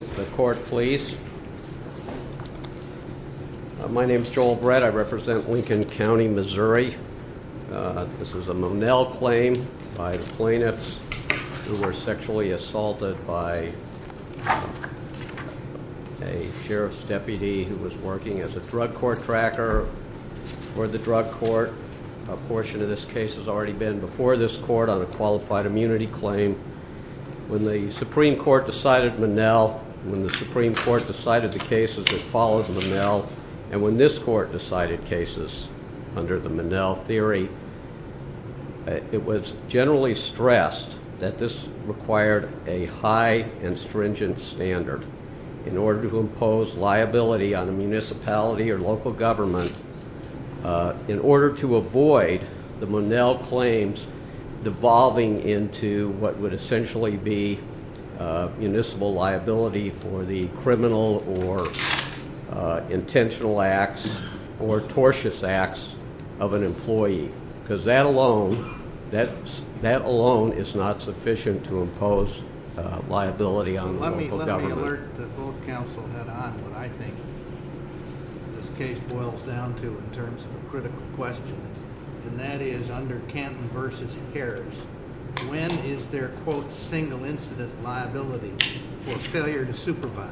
The court, please. My name is Joel Brett. I represent Lincoln County, Missouri. This is a Monell claim by the plaintiffs who were sexually assaulted by a sheriff's deputy who was working as a drug court tracker for the drug court. A portion of this case has already been before this court on a qualified immunity claim. When the Supreme Court decided the case as it follows Monell, and when this court decided cases under the Monell theory, it was generally stressed that this required a high and stringent standard in order to impose liability on a municipality or local government in order to avoid the Monell claims devolving into what would essentially be municipal liability for the criminal or intentional acts or tortious acts of an employee. Because that alone is not sufficient to impose liability on the local government. Let me alert both counsel head on what I think this case boils down to in terms of a critical question. And that is under Canton v. Harris, when is there quote single incident liability for failure to supervise?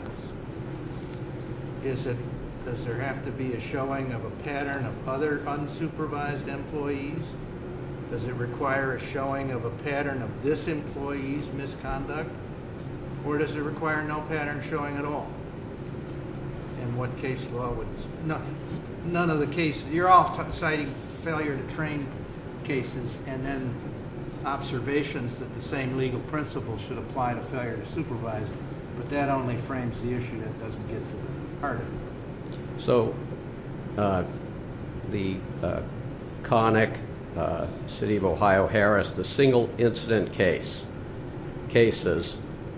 Does there have to be a showing of a pattern of other unsupervised employees? Does it require a showing of a pattern of this employee's misconduct? Or does it require no pattern showing at all? In what case law? None of the cases. You're all citing failure to train cases and then legal principles should apply to failure to supervise, but that only frames the issue that doesn't get to the heart of it. The Connick, City of Ohio, Harris, the single incident case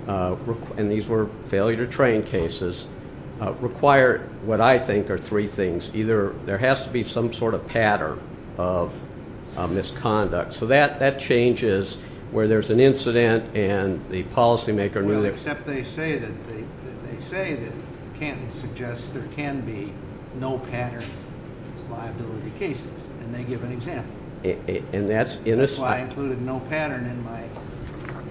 and these were failure to train cases require what I think are three things. Either there has to be some sort of pattern of misconduct. So that changes where there's an incident and the policymaker Well except they say that Canton suggests there can be no pattern liability cases and they give an example. That's why I included no pattern in my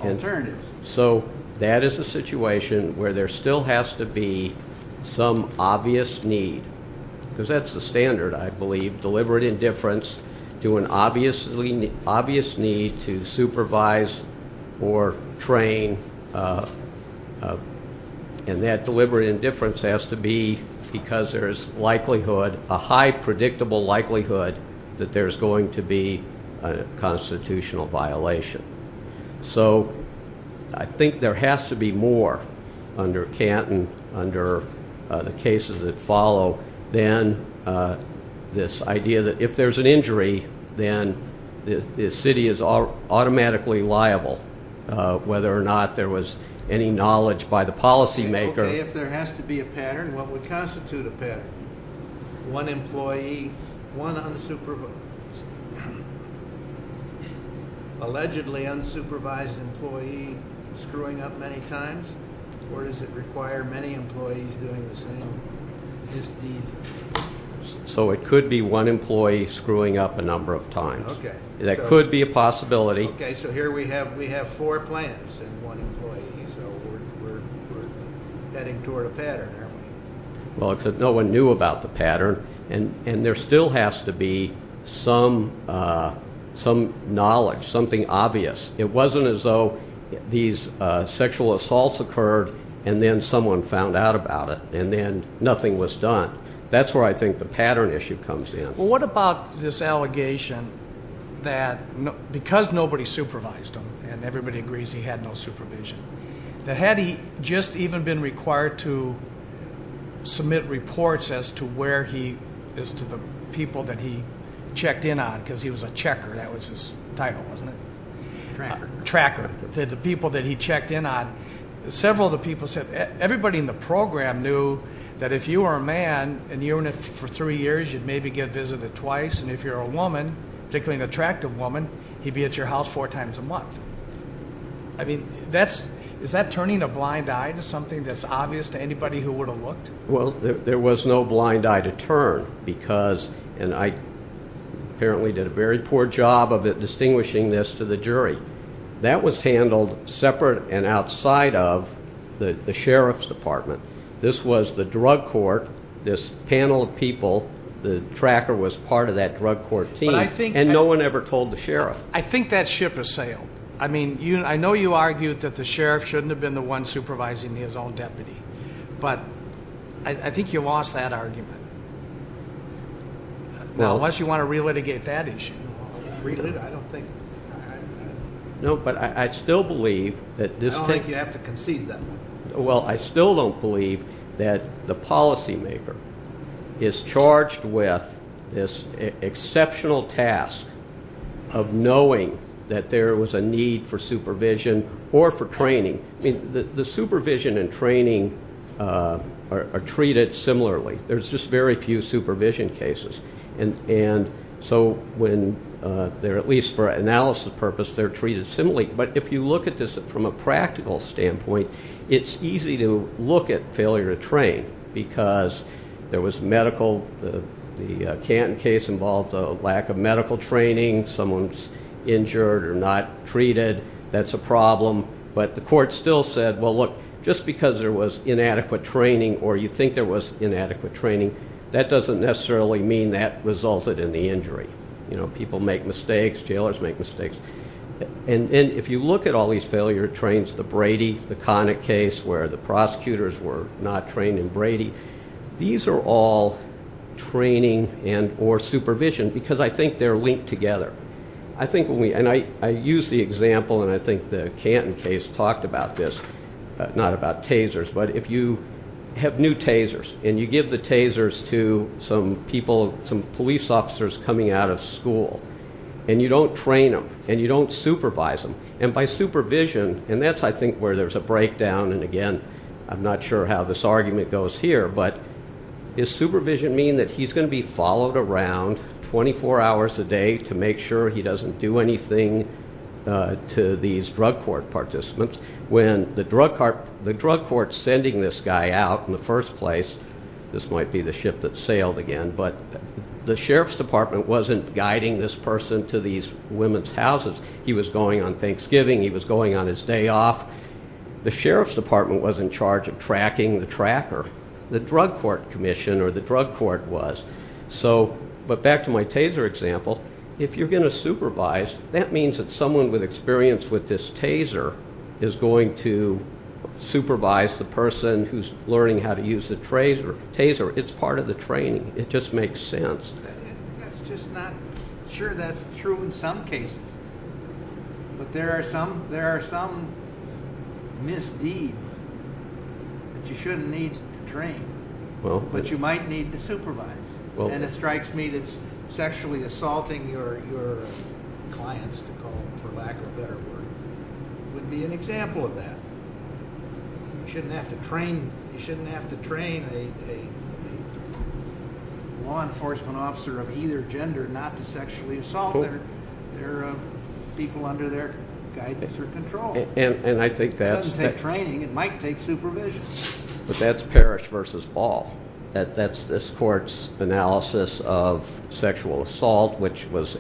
alternatives. So that is a situation where there still has to be some obvious need because that's the standard I believe. Deliberate indifference to an obvious need to supervise or train and that deliberate indifference has to be because there's likelihood a high predictable likelihood that there's going to be a constitutional violation. So I think there has to be more under Canton, under the cases that follow than this idea that if there's an injury then the city is automatically liable whether or not there was any knowledge by the policymaker. Okay if there has to be a pattern what would constitute a pattern? One employee one unsupervised allegedly unsupervised employee screwing up many times or does it require many employees doing the same So it could be one employee screwing up a number of times. That could be a possibility So here we have four plans and one employee heading toward a pattern. Well except no one knew about the pattern and there still has to be some knowledge, something obvious. It wasn't as though these sexual assaults occurred and then someone found out about it and then nothing was done. That's where I think the pattern issue comes in. Well what about this allegation that because nobody supervised him and everybody agrees he had no supervision that had he just even been required to submit reports as to where he, as to the people that he checked in on because he was a checker, that was his title wasn't it? Tracker. Tracker. The people that he checked in on several of the people said everybody in the program knew that if you were a man and you were in it for three years you'd maybe get visited twice and if you're a woman, particularly an attractive woman, he'd be at your house four times a month I mean that's, is that turning a blind eye to something that's obvious to anybody who would have looked? Well there was no blind eye to turn because and I apparently did a very poor job of it distinguishing this to the jury. That was handled separate and outside of the sheriff's department. This was the drug court, this panel of people the tracker was part of that drug court team and no one ever told the sheriff. I think that ship has sailed. I mean I know you argued that the sheriff shouldn't have been the one supervising his own deputy but I think you lost that argument. Unless you want to re-litigate that issue. I don't think I don't think you have to concede that one. Well I still don't believe that the policy maker is charged with this exceptional task of knowing that there was a need for supervision or for training. The supervision and training are treated similarly. There's just very few supervision cases and so when they're at least for analysis purpose they're treated similarly but if you look at this from a practical standpoint it's easy to look at failure to train because there was medical, the Canton case involved a lack of medical training. Someone's injured or not treated. That's a problem but the court still said well look just because there was inadequate training or you think there was inadequate training that doesn't necessarily mean that resulted in the injury. People make mistakes, jailors make mistakes and if you look at all these failure trains, the Brady, the Connick case where the prosecutors were not trained in Brady, these are all training or supervision because I think they're linked together. I think when we, and I use the example and I think the Canton case talked about this, not about tasers, but if you have new tasers and you give the tasers to some people, some police officers coming out of school and you don't train them and you don't supervise them and by supervision and that's I think where there's a breakdown and again I'm not sure how this argument goes here but does supervision mean that he's going to be followed around 24 hours a day to make sure he doesn't do anything to these drug court participants when the drug court sending this guy out in the first place, this might be the ship that sailed again, but the sheriff's department wasn't guiding this person to these women's houses, he was going on Thanksgiving, he was going on his day off, the sheriff's department wasn't in charge of tracking the tracker, the drug court commission or the drug court was. But back to my taser example, if you're going to supervise that means that someone with experience with this taser is going to supervise the person who's learning how to use the taser, it's part of the training, it just makes sense. Sure that's true in some cases, but there are some misdeeds that you shouldn't need to train, but you might need to supervise and it strikes me that sexually assaulting your clients to call them for lack of a better word would be an example of that. You shouldn't have to train a law enforcement officer of either gender not to sexually assault their people under their guidance or control. It doesn't take training, it might take supervision. But that's Parrish versus Ball, that's this court's analysis of sexual assault, which was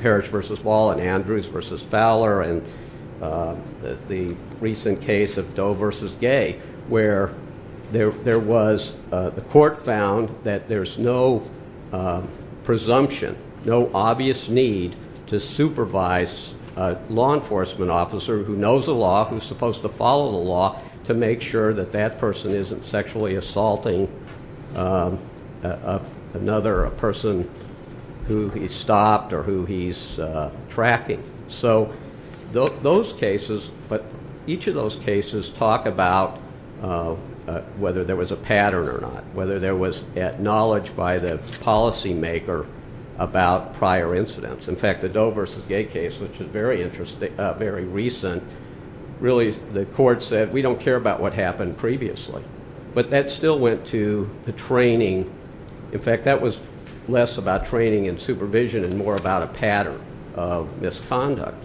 Parrish versus Ball and Andrews versus Fowler and the recent case of Doe versus Gay, where there was the court found that there's no presumption, no obvious need to supervise a law enforcement officer who knows the law, who's supposed to follow the law to make sure that that person isn't sexually assaulting another person who he's stopped or who he's tracking. So those cases, but each of those cases talk about whether there was a pattern or not, whether there was knowledge by the policy maker about prior incidents. In fact, the Doe versus Gay case, which is very recent, really the court said we don't care about what happened previously. But that still went to the training, in fact that was less about training and supervision and more about a pattern of misconduct.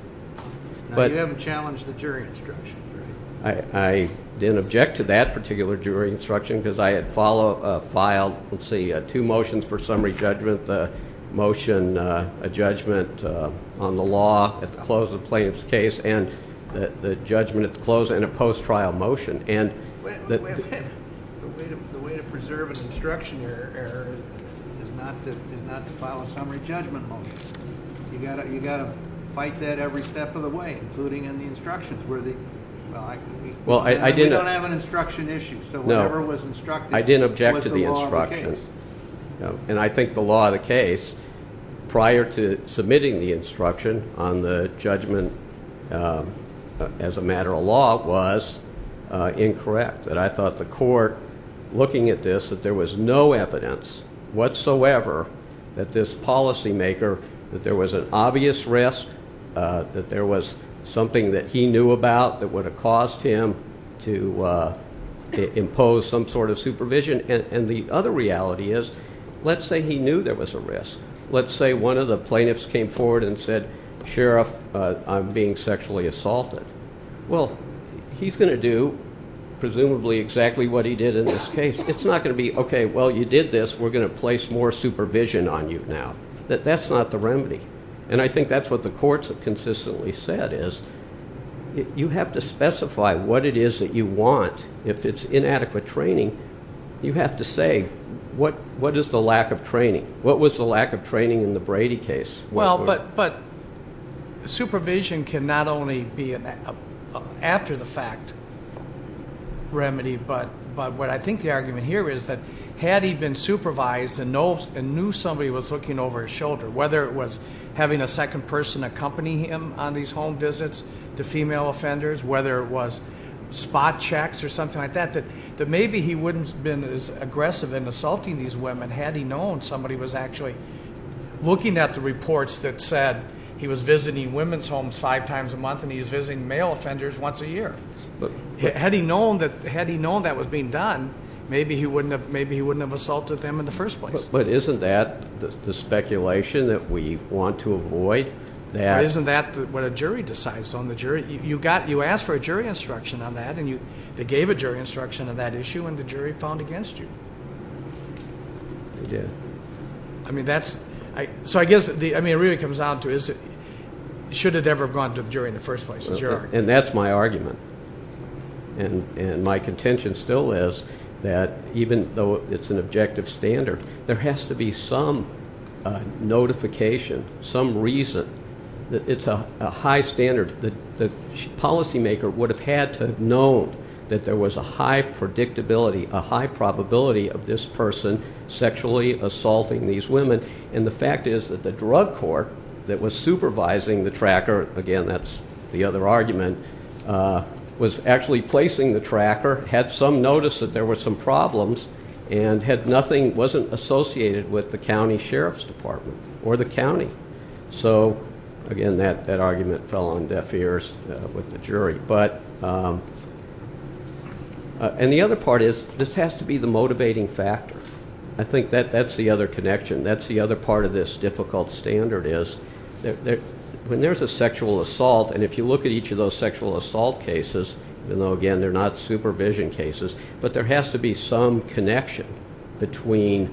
You haven't challenged the jury instruction. I didn't object to that particular jury instruction because I had filed two motions for summary judgment, the motion a judgment on the law at the close of the plaintiff's case and the judgment at the close and a post-trial motion. The way to preserve an instruction error is not to file a summary judgment motion. You've got to fight that every step of the way, including in the instructions and we don't have an instruction issue, so whatever was instructed was the law of the case. I think the law of the case, prior to submitting the instruction on the judgment as a matter of law was incorrect. I thought the court looking at this, that there was no evidence whatsoever that this policymaker, that there was an obvious risk, that there was something that he knew about that would have caused him to impose some sort of supervision. And the other reality is, let's say he knew there was a risk. Let's say one of the plaintiffs came forward and said, Sheriff, I'm being sexually assaulted. Well, he's going to do presumably exactly what he did in this case. It's not going to be, okay, well, you did this, we're going to place more supervision on you now. That's not the remedy. And I think that's what the courts have consistently said is, you have to specify what it is that you want. If it's inadequate training, you have to say, what is the lack of training? What was the lack of training in the Brady case? Supervision can not only be an after-the-fact remedy, but what I think the argument here is that had he been supervised and knew somebody was looking over his shoulder, whether it was having a second person accompany him on these home visits to female offenders, whether it was spot checks or something like that, that maybe he wouldn't have been as aggressive in assaulting these women had he known somebody was actually looking at the reports that said he was visiting women's homes five times a month and he was visiting male women. Had he known that was being done, maybe he wouldn't have assaulted them in the first place. But isn't that the speculation that we want to avoid? Isn't that what a jury decides on the jury? You asked for a jury instruction on that and they gave a jury instruction on that issue and the jury found against you. They did. So I guess, I mean, it really comes down to, should it ever have gone to the jury in the first place? And that's my argument. And my contention still is that even though it's an objective standard, there has to be some notification, some reason that it's a high standard. The policymaker would have had to have known that there was a high predictability, a high probability of this person sexually assaulting these women. And the fact is that the drug court that was supervising the argument was actually placing the tracker, had some notice that there were some problems, and had nothing, wasn't associated with the county sheriff's department or the county. So again, that argument fell on deaf ears with the jury. But, and the other part is this has to be the motivating factor. I think that's the other connection. That's the other part of this difficult standard is when there's a sexual assault, and if you look at each of those sexual assault cases, and again, they're not supervision cases, but there has to be some connection between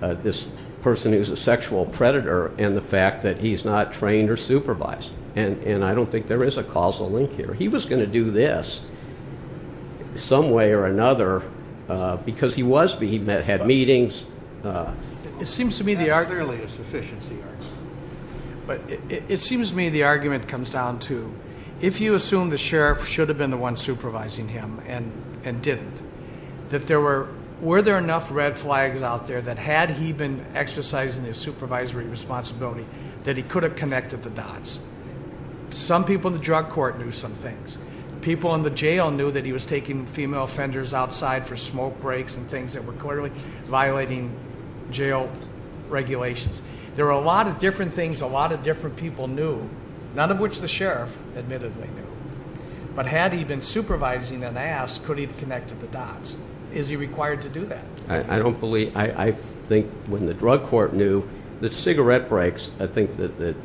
this person who's a sexual predator and the fact that he's not trained or supervised. And I don't think there is a causal link here. He was going to do this some way or another because he was, he had meetings. That's clearly a sufficiency argument. But it seems to me the argument comes down to, if you assume the sheriff should have been the one supervising him and didn't, that there were, were there enough red flags out there that had he been exercising his supervisory responsibility, that he could have connected the dots. Some people in the drug court knew some things. People in the jail knew that he was taking female offenders outside for smoke breaks and things that were clearly violating jail regulations. There were a lot of different things a lot of different people knew, none of which the sheriff admittedly knew. But had he been supervising and asked, could he have connected the dots? Is he required to do that? I don't believe, I think when the drug court knew that cigarette breaks, I think that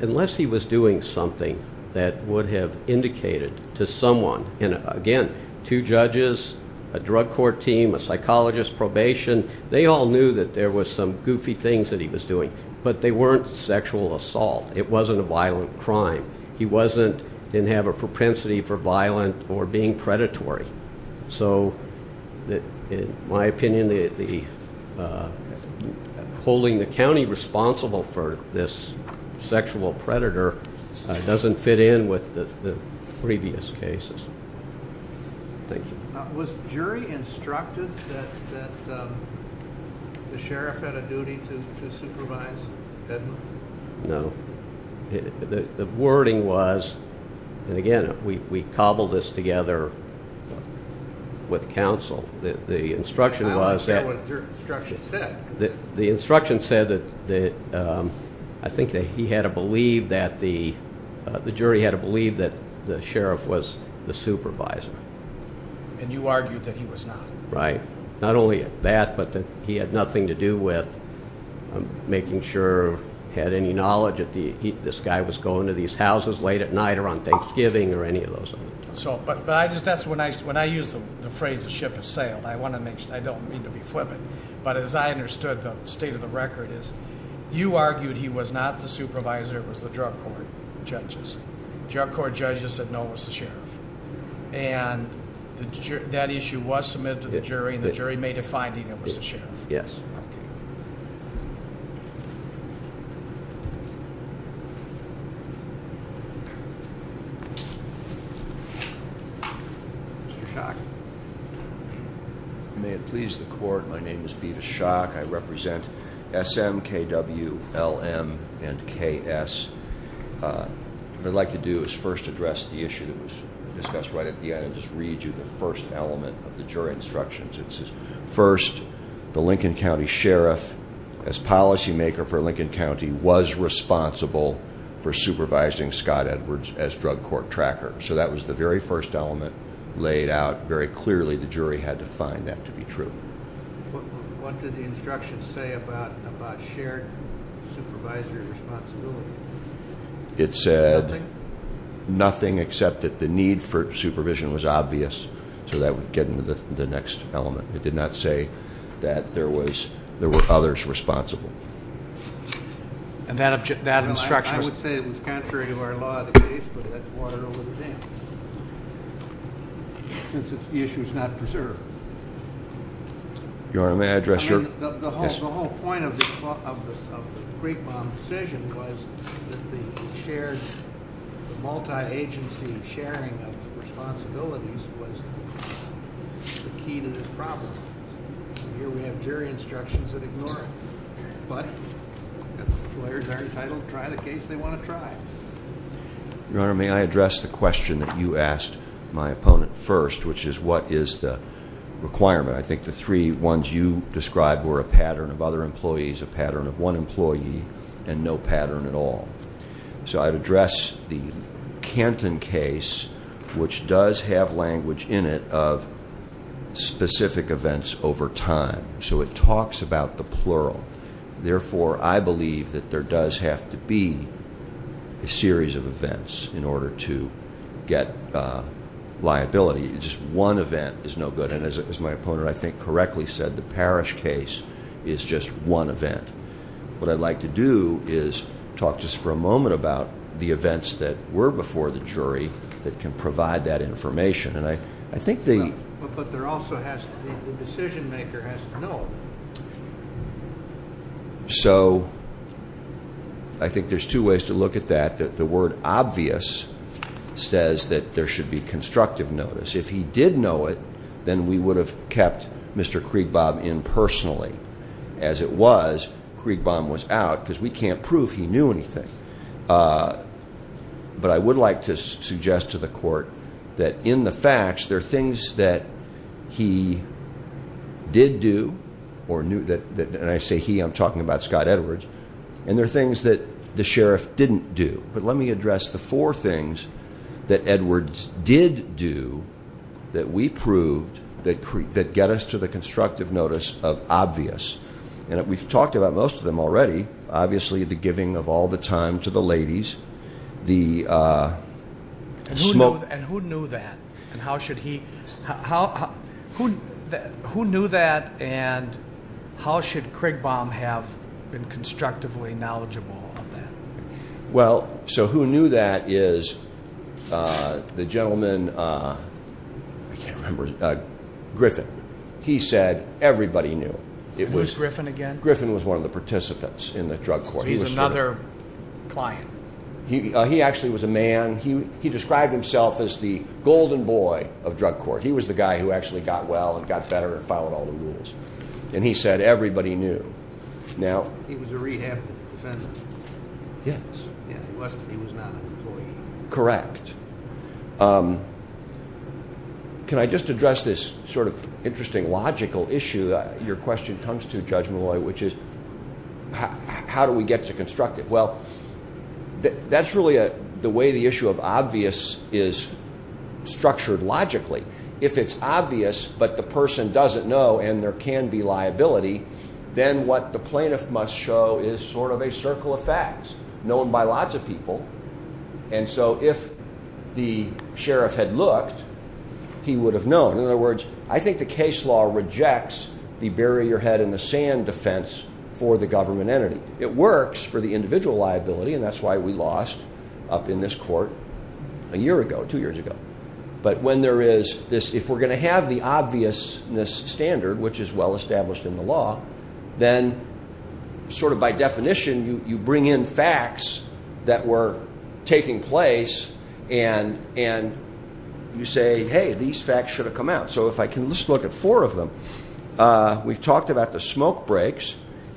unless he was doing something that would have indicated to someone, and again, two judges, a drug court team, a psychologist, probation, they all knew that there was some goofy things that he was doing. But they weren't sexual assault. It wasn't a violent crime. He wasn't, didn't have a propensity for violent or being predatory. So, in my opinion, holding the county responsible for this sexual predator doesn't fit in with the Was the jury instructed that the sheriff had a duty to supervise Edmund? No. The wording was, and again, we cobbled this together with counsel. The instruction was that the instruction said that I think that he had to believe that the jury had to believe that the sheriff was the supervisor. And you argued that he was not. Right. Not only that, but that he had nothing to do with making sure, had any knowledge that this guy was going to these houses late at night or on Thanksgiving or any of those things. That's when I use the phrase, the ship has sailed. I want to make sure, I don't mean to be flippant, but as I understood the state of the record is you argued he was not the supervisor, it was the drug court judges. Drug court judges said no, it was the sheriff. That issue was submitted to the jury and the jury made a finding it was the sheriff. Mr. Schock. May it please the court, my name is Beavis Schock. I represent SM, KW, LM and KS. What I'd like to do is first address the issue that was discussed right at the end and just read you the first element of the jury instructions. It says, first, the Lincoln County Sheriff as policy maker for Lincoln County was responsible for supervising Scott Edwards as drug court tracker. So that was the very first element laid out very clearly. The jury had to find that to be true. What did the instructions say about shared supervisory responsibility? It said nothing except that the need for supervision was obvious, so that would get into the next element. It did not say that there were others responsible. And that instruction... I would say it was contrary to our law of the case, but that's water over the dam. Since the issue is not preserved. Your Honor, may I address your... Your Honor, may I address the question that you asked my opponent first, which is what is the requirement? I think the three ones you described were a pattern of other employees, a pattern of one employee, and no pattern at all. So I'd address the Canton case, which does have language in it of specific events over time. So it talks about the plural. Therefore, I believe that there does have to be a series of events in order to get liability. Just one event is no good. And as my opponent I think correctly said, the Parrish case is just one event. What I'd like to do is talk just for a moment about the events that were before the jury that can provide that information. But the decision maker has to know. I think there's two ways to look at that. The word obvious says that there should be constructive notice. If he did know it, then we would have kept Mr. Kriegbaum in personally. As it was, Kriegbaum was out because we can't prove he knew anything. But I would like to suggest to the Court that in the facts, there are things that he did do, and I say he, I'm talking about Scott Edwards, and there are things that the Sheriff didn't do. But let me address the four things that Edwards did do that we proved that get us to the constructive notice of obvious. And we've talked about most of them already. Obviously, the giving of all the time to the ladies. And who knew that? Who knew that? And how should Kriegbaum have been constructively knowledgeable of that? The gentleman, I can't remember, Griffin. He said everybody knew. Who's Griffin again? Griffin was one of the participants in the drug court. He's another client. He actually was a man, he described himself as the golden boy of drug court. He was the guy who actually got well and got better and followed all the rules. And he said everybody knew. He was a rehabbed defendant. He was not an employee. Can I just address this sort of interesting logical issue that your question comes to, Judge Malloy, which is how do we get to constructive? Well, that's really the way the issue of obvious is structured logically. If it's obvious, but the person doesn't know and there can be liability, then what the plaintiff must show is sort of a circle of facts, known by lots of people. And so if the sheriff had looked, he would have known. In other words, I think the case law rejects the bury your head in the sand defense for the government entity. It works for the individual liability, and that's why we lost up in this court a year ago, two years ago. But when there is this, if we're going to have the obvious standard, which is well established in the law, then sort of by definition, you bring in facts that were taking place and you say, hey, these facts should have come out. So if I can just look at four of them. We've talked about the smoke breaks.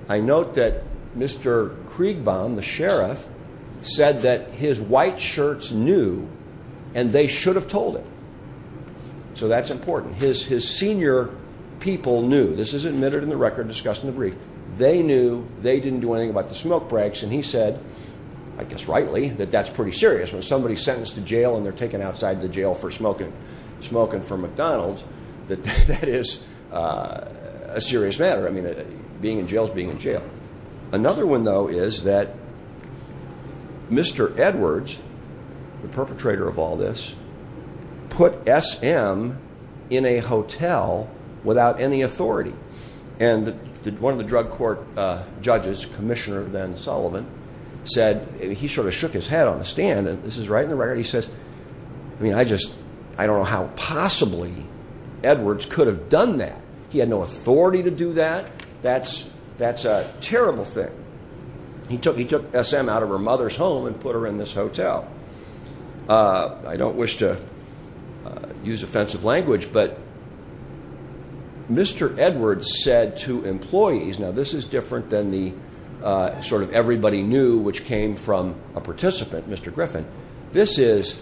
I note that Mr. Kriegbaum, the sheriff, said that his white shirts knew, and they should have told him. So that's important. His senior people knew. This is admitted in the record, discussed in the brief. They knew, they didn't do anything about the smoke breaks, and he said, I guess rightly, that that's pretty serious. When somebody's sentenced to jail and they're taken outside the jail for smoking for McDonald's, that that is a serious matter. I mean, being in jail is being in jail. Another one, though, is that Mr. Edwards, the perpetrator of all this, put S.M. in a hotel without any authority. And one of the drug court judges, Commissioner then Sullivan, said he sort of shook his head on the stand, and this is right in the record, he says, I don't know how possibly Edwards could have done that. He had no authority to do that. That's a terrible thing. He took S.M. out of her mother's home and put her in this I don't wish to use offensive language, but Mr. Edwards said to employees, now this is different than the sort of everybody knew which came from a participant, Mr. Griffin. This is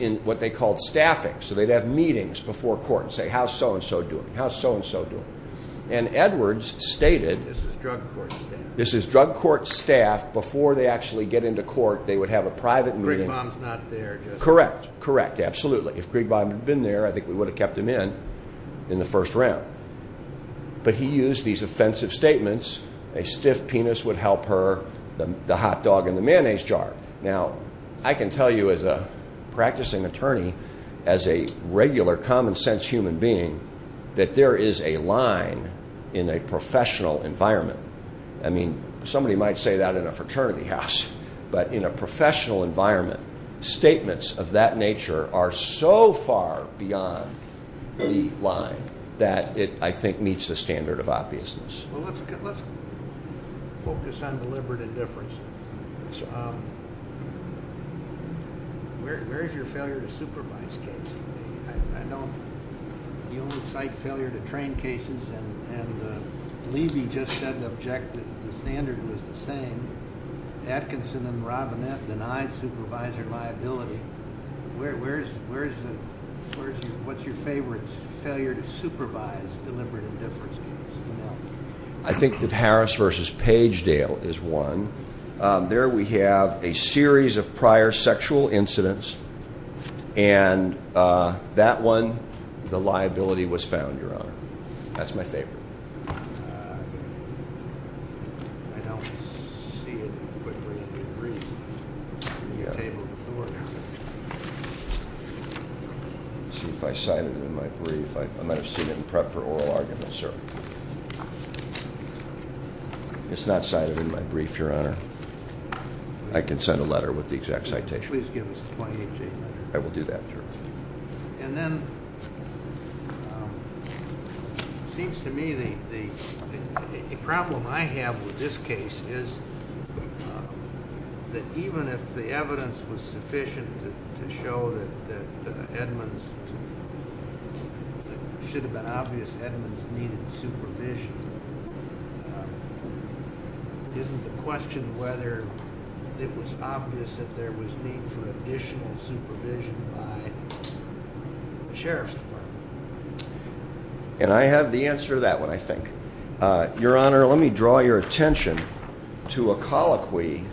in what they called staffing. So they'd have meetings before court and say, how's so-and-so doing? How's so-and-so doing? And Edwards stated this is drug court staff. Before they actually get into court, they would have a private meeting. Craig Baum's not there. Correct. Correct. Absolutely. If Craig Baum had been there, I think we would have kept him in, in the first round. But he used these offensive statements. A stiff penis would help her. The hot dog in the mayonnaise jar. Now, I can tell you as a practicing attorney, as a regular common sense human being, that there is a line in a professional environment. I mean, somebody might say that in a fraternity house, but in a professional environment, statements of that nature are so far beyond the line that it, I think, meets the standard of obviousness. Let's focus on deliberate indifference. Where's your failure to supervise case? I know you only cite failure to train cases and Levy just said the standard was the same. Atkinson and Robinette denied supervisor liability. What's your favorite failure to supervise deliberate indifference case? I think that Harris v. Pagedale is one. There we have a series of prior sexual incidents, and that one the liability was found, Your Honor. That's my favorite. I don't see it in your brief. Let's see if I cited it in my brief. I might have seen it in prep for oral arguments, sir. It's not cited in my brief, Your Honor. I can send a letter with the exact citation. Please give us a 2018 letter. I will do that, Your Honor. And then let's see. It seems to me the problem I have with this case is that even if the evidence was sufficient to show that Edmonds should have been obvious, Edmonds needed supervision. Isn't the question whether it was obvious that there was need for additional supervision by the Sheriff's Department? And I have the answer to that one, I think. Your Honor, let me draw your attention to a colloquy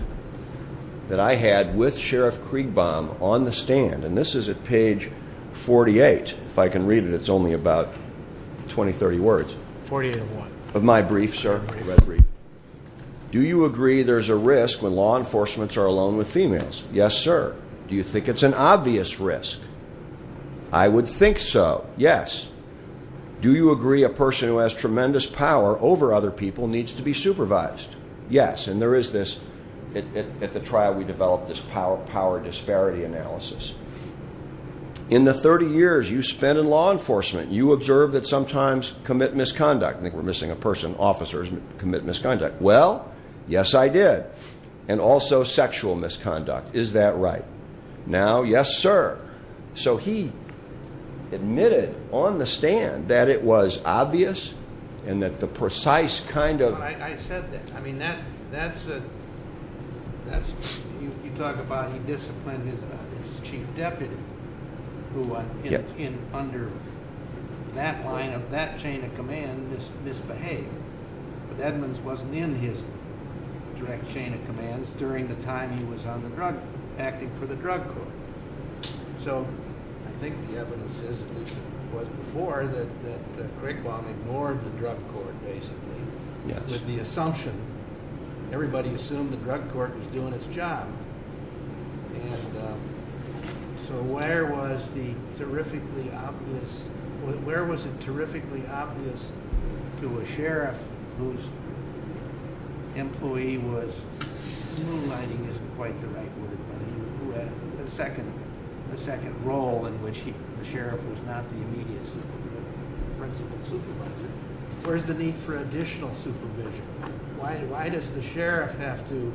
that I had with Sheriff Kriegbaum on the stand. And this is at page 48. If I can read it, it's only about 20, 30 words. 48 of what? Of my brief, sir. Do you agree there's a risk when law enforcements are alone with females? Yes, sir. Do you think it's an obvious risk? I would think so. Yes. Do you agree a person who has tremendous power over other people needs to be supervised? Yes. And there is this at the trial we developed this power disparity analysis. In the 30 years you spent in law enforcement, you observed that sometimes commit misconduct. I think we're missing a person. Officers commit misconduct. Well, yes, I did. And also sexual misconduct. Is that right? Now, yes, sir. So he admitted on the stand that it was obvious and that the precise kind of... I said that. I mean, that's a... You talk about he disciplined his chief deputy who under that line of that chain of command misbehaved. But Edmonds wasn't in his direct chain of commands during the time he was on the drug, acting for the drug court. So I think the evidence is it was before that Craigbaum ignored the drug court basically with the assumption. Everybody assumed the drug court was doing its job. So where was the terrifically obvious... Where was it terrifically obvious to a sheriff whose employee was... The second role in which the sheriff was not the immediate supervisor. Where's the need for additional supervision? Why does the sheriff have to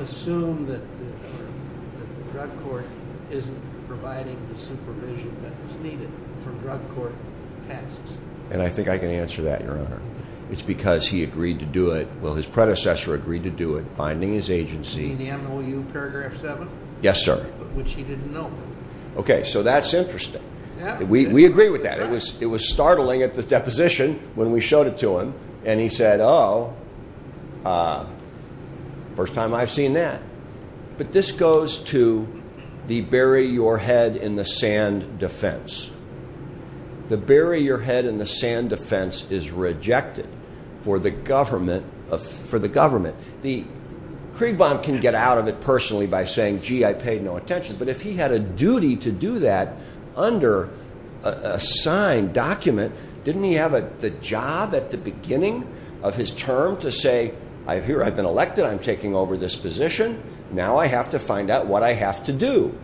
assume that the drug court isn't providing the supervision that was needed for drug court tests? And I think I can answer that, your honor. It's because he agreed to do it. Well, his predecessor agreed to do it, binding his agency. In the MOU paragraph 7? Yes, sir. Which he didn't know. Okay, so that's interesting. We agree with that. It was startling at the deposition when we showed it to him and he said, oh, first time I've seen that. But this goes to the bury your head in the sand defense. The bury your head in the sand defense is rejected for the government. The Kriegbaum can get out of it personally by saying, gee, I paid no attention. But if he had a duty to do that under a signed document, didn't he have the job at the beginning of his term to say I've been elected. I'm taking over this position. Now I have to find out what I have to do.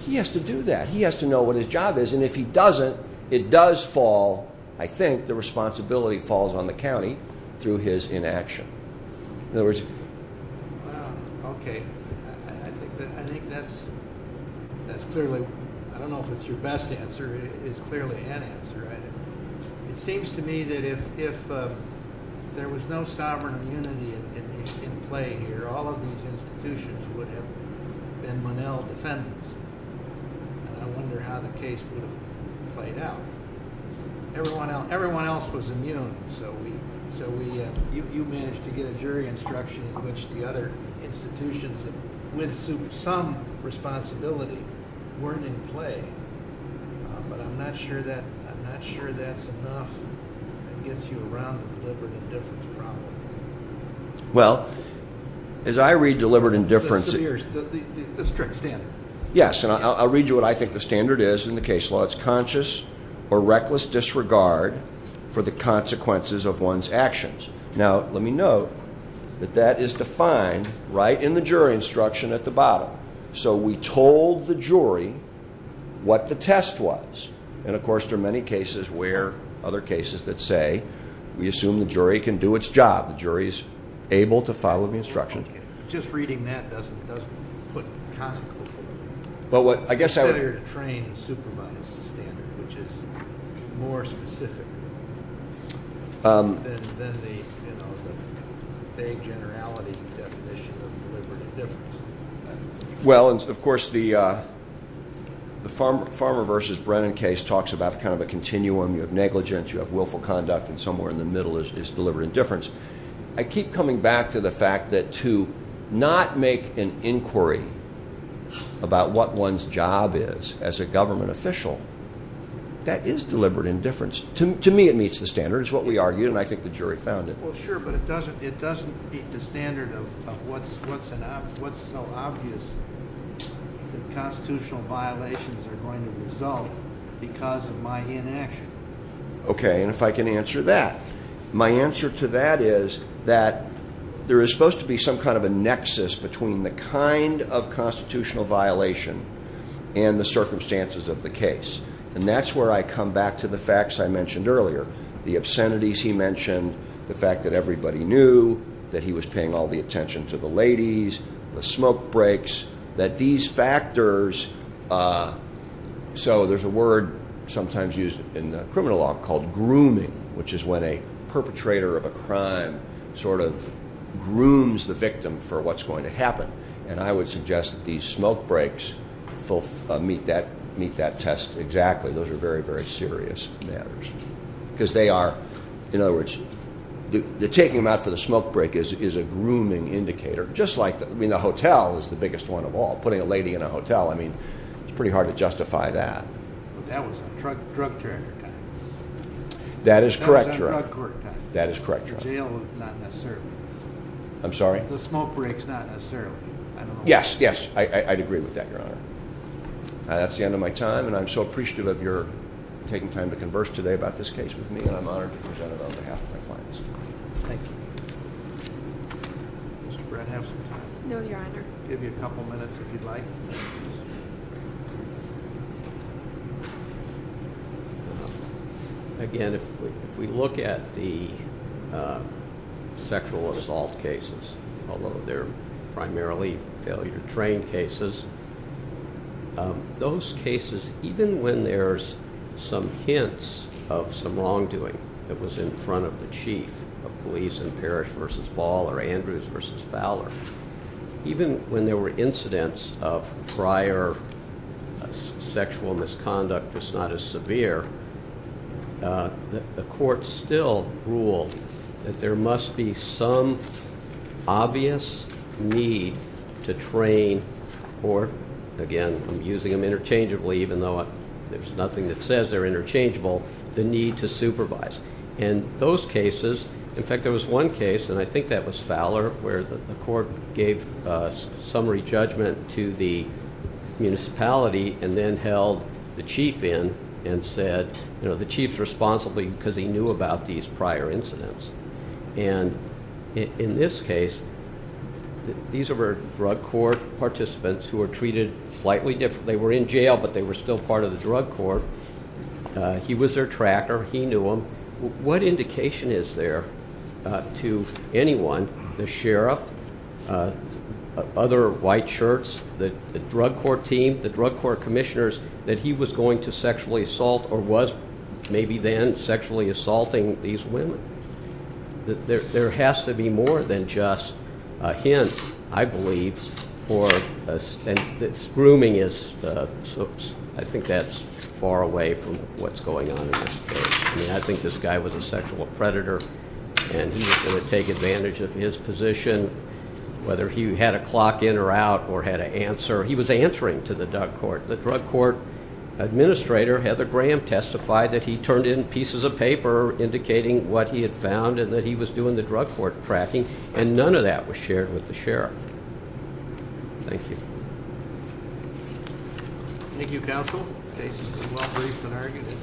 He has to do that. He has to know what his job is and if he doesn't, it does fall, I think, the responsibility falls on the county through his inaction. Okay, I think that's clearly, I don't know if it's your best answer, it's clearly an answer. It seems to me that if there was no sovereign immunity in play here, all of these institutions would have been Monell defendants. I wonder how the case would have played out. Everyone else was immune, so we you managed to get a jury instruction in which the other institutions with some responsibility weren't in play. But I'm not sure that's enough that gets you around the deliberate indifference problem. Well, as I read deliberate indifference Yes, and I'll read you what I think the standard is in the case law. It's conscious or reckless disregard for the consequences of one's actions. Now, let me note that that is defined right in the jury instruction at the bottom. So we told the jury what the test was and of course there are many cases where, other cases that say we assume the jury can do its job. The jury is able to follow the standard. Well, of course, the Farmer vs. Brennan case talks about a continuum. You have negligence, you have willful conduct, and somewhere in the middle is deliberate indifference. I keep coming back to the fact that to not make an inquiry about what one's job is as a government official, that is deliberate indifference. To me it meets the standard. It's what we argued and I think the jury found it. Well, sure, but it doesn't meet the standard of what's so obvious that constitutional violations are going to result because of my inaction. Okay, and if I can answer that. My answer to that is that there is supposed to be some kind of a nexus between the kind of constitutional violation and the circumstances of the case. And that's where I come back to the facts I mentioned earlier. The obscenities he mentioned, the fact that everybody knew, that he was paying all the attention to the ladies, the smoke breaks, that these factors, so there's a word sometimes used in the criminal law called grooming, which is when a person sort of grooms the victim for what's going to happen. And I would suggest that these smoke breaks meet that test exactly. Those are very, very serious matters. Because they are, in other words, the taking them out for the smoke break is a grooming indicator, just like the hotel is the biggest one of all. Putting a lady in a hotel, I mean, it's pretty hard to justify that. But that was a drug charger kind of thing. That is correct. That is correct, Your Honor. I'm sorry? The smoke breaks, not necessarily. Yes, yes. I'd agree with that, Your Honor. That's the end of my time, and I'm so appreciative of your taking time to converse today about this case with me, and I'm honored to present it on behalf of my clients. Thank you. Mr. Brett, have some time. No, Your Honor. I'll give you a couple minutes if you'd like. Again, if we look at the sexual assault cases, although they're primarily failure-trained cases, those cases, even when there's some hints of some wrongdoing that was in front of the chief of police in Parrish v. Ball or Andrews v. Fowler, even when there were incidents of prior sexual misconduct that's not as severe, the court still ruled that there must be some obvious need to train or, again, I'm using them interchangeably even though there's nothing that says they're interchangeable, the need to supervise. And those cases, in fact, there was one case, and I think that was Fowler, where the court gave summary judgment to the municipality and then held the chief in and said, you know, the chief's responsible because he knew about these prior incidents. And in this case, these were drug court participants who were treated slightly differently. They were in jail, but they were still part of the drug court. He was their tracker. He knew them. What indication is there to anyone, the sheriff, other white shirts, the drug court team, the drug court commissioners, that he was going to sexually assault or was maybe then sexually assaulting these women? There has to be more than just a hint, I believe, for grooming is, I think that's far away from what's going on in this case. I think this guy was a he was going to take advantage of his position, whether he had a clock in or out or had an answer. He was answering to the drug court. The drug court administrator, Heather Graham, testified that he turned in pieces of paper indicating what he had found and that he was doing the drug court tracking, and none of that was shared with the sheriff. Thank you. Thank you, counsel. The case is well briefed and argued and pristine. Pristine issues.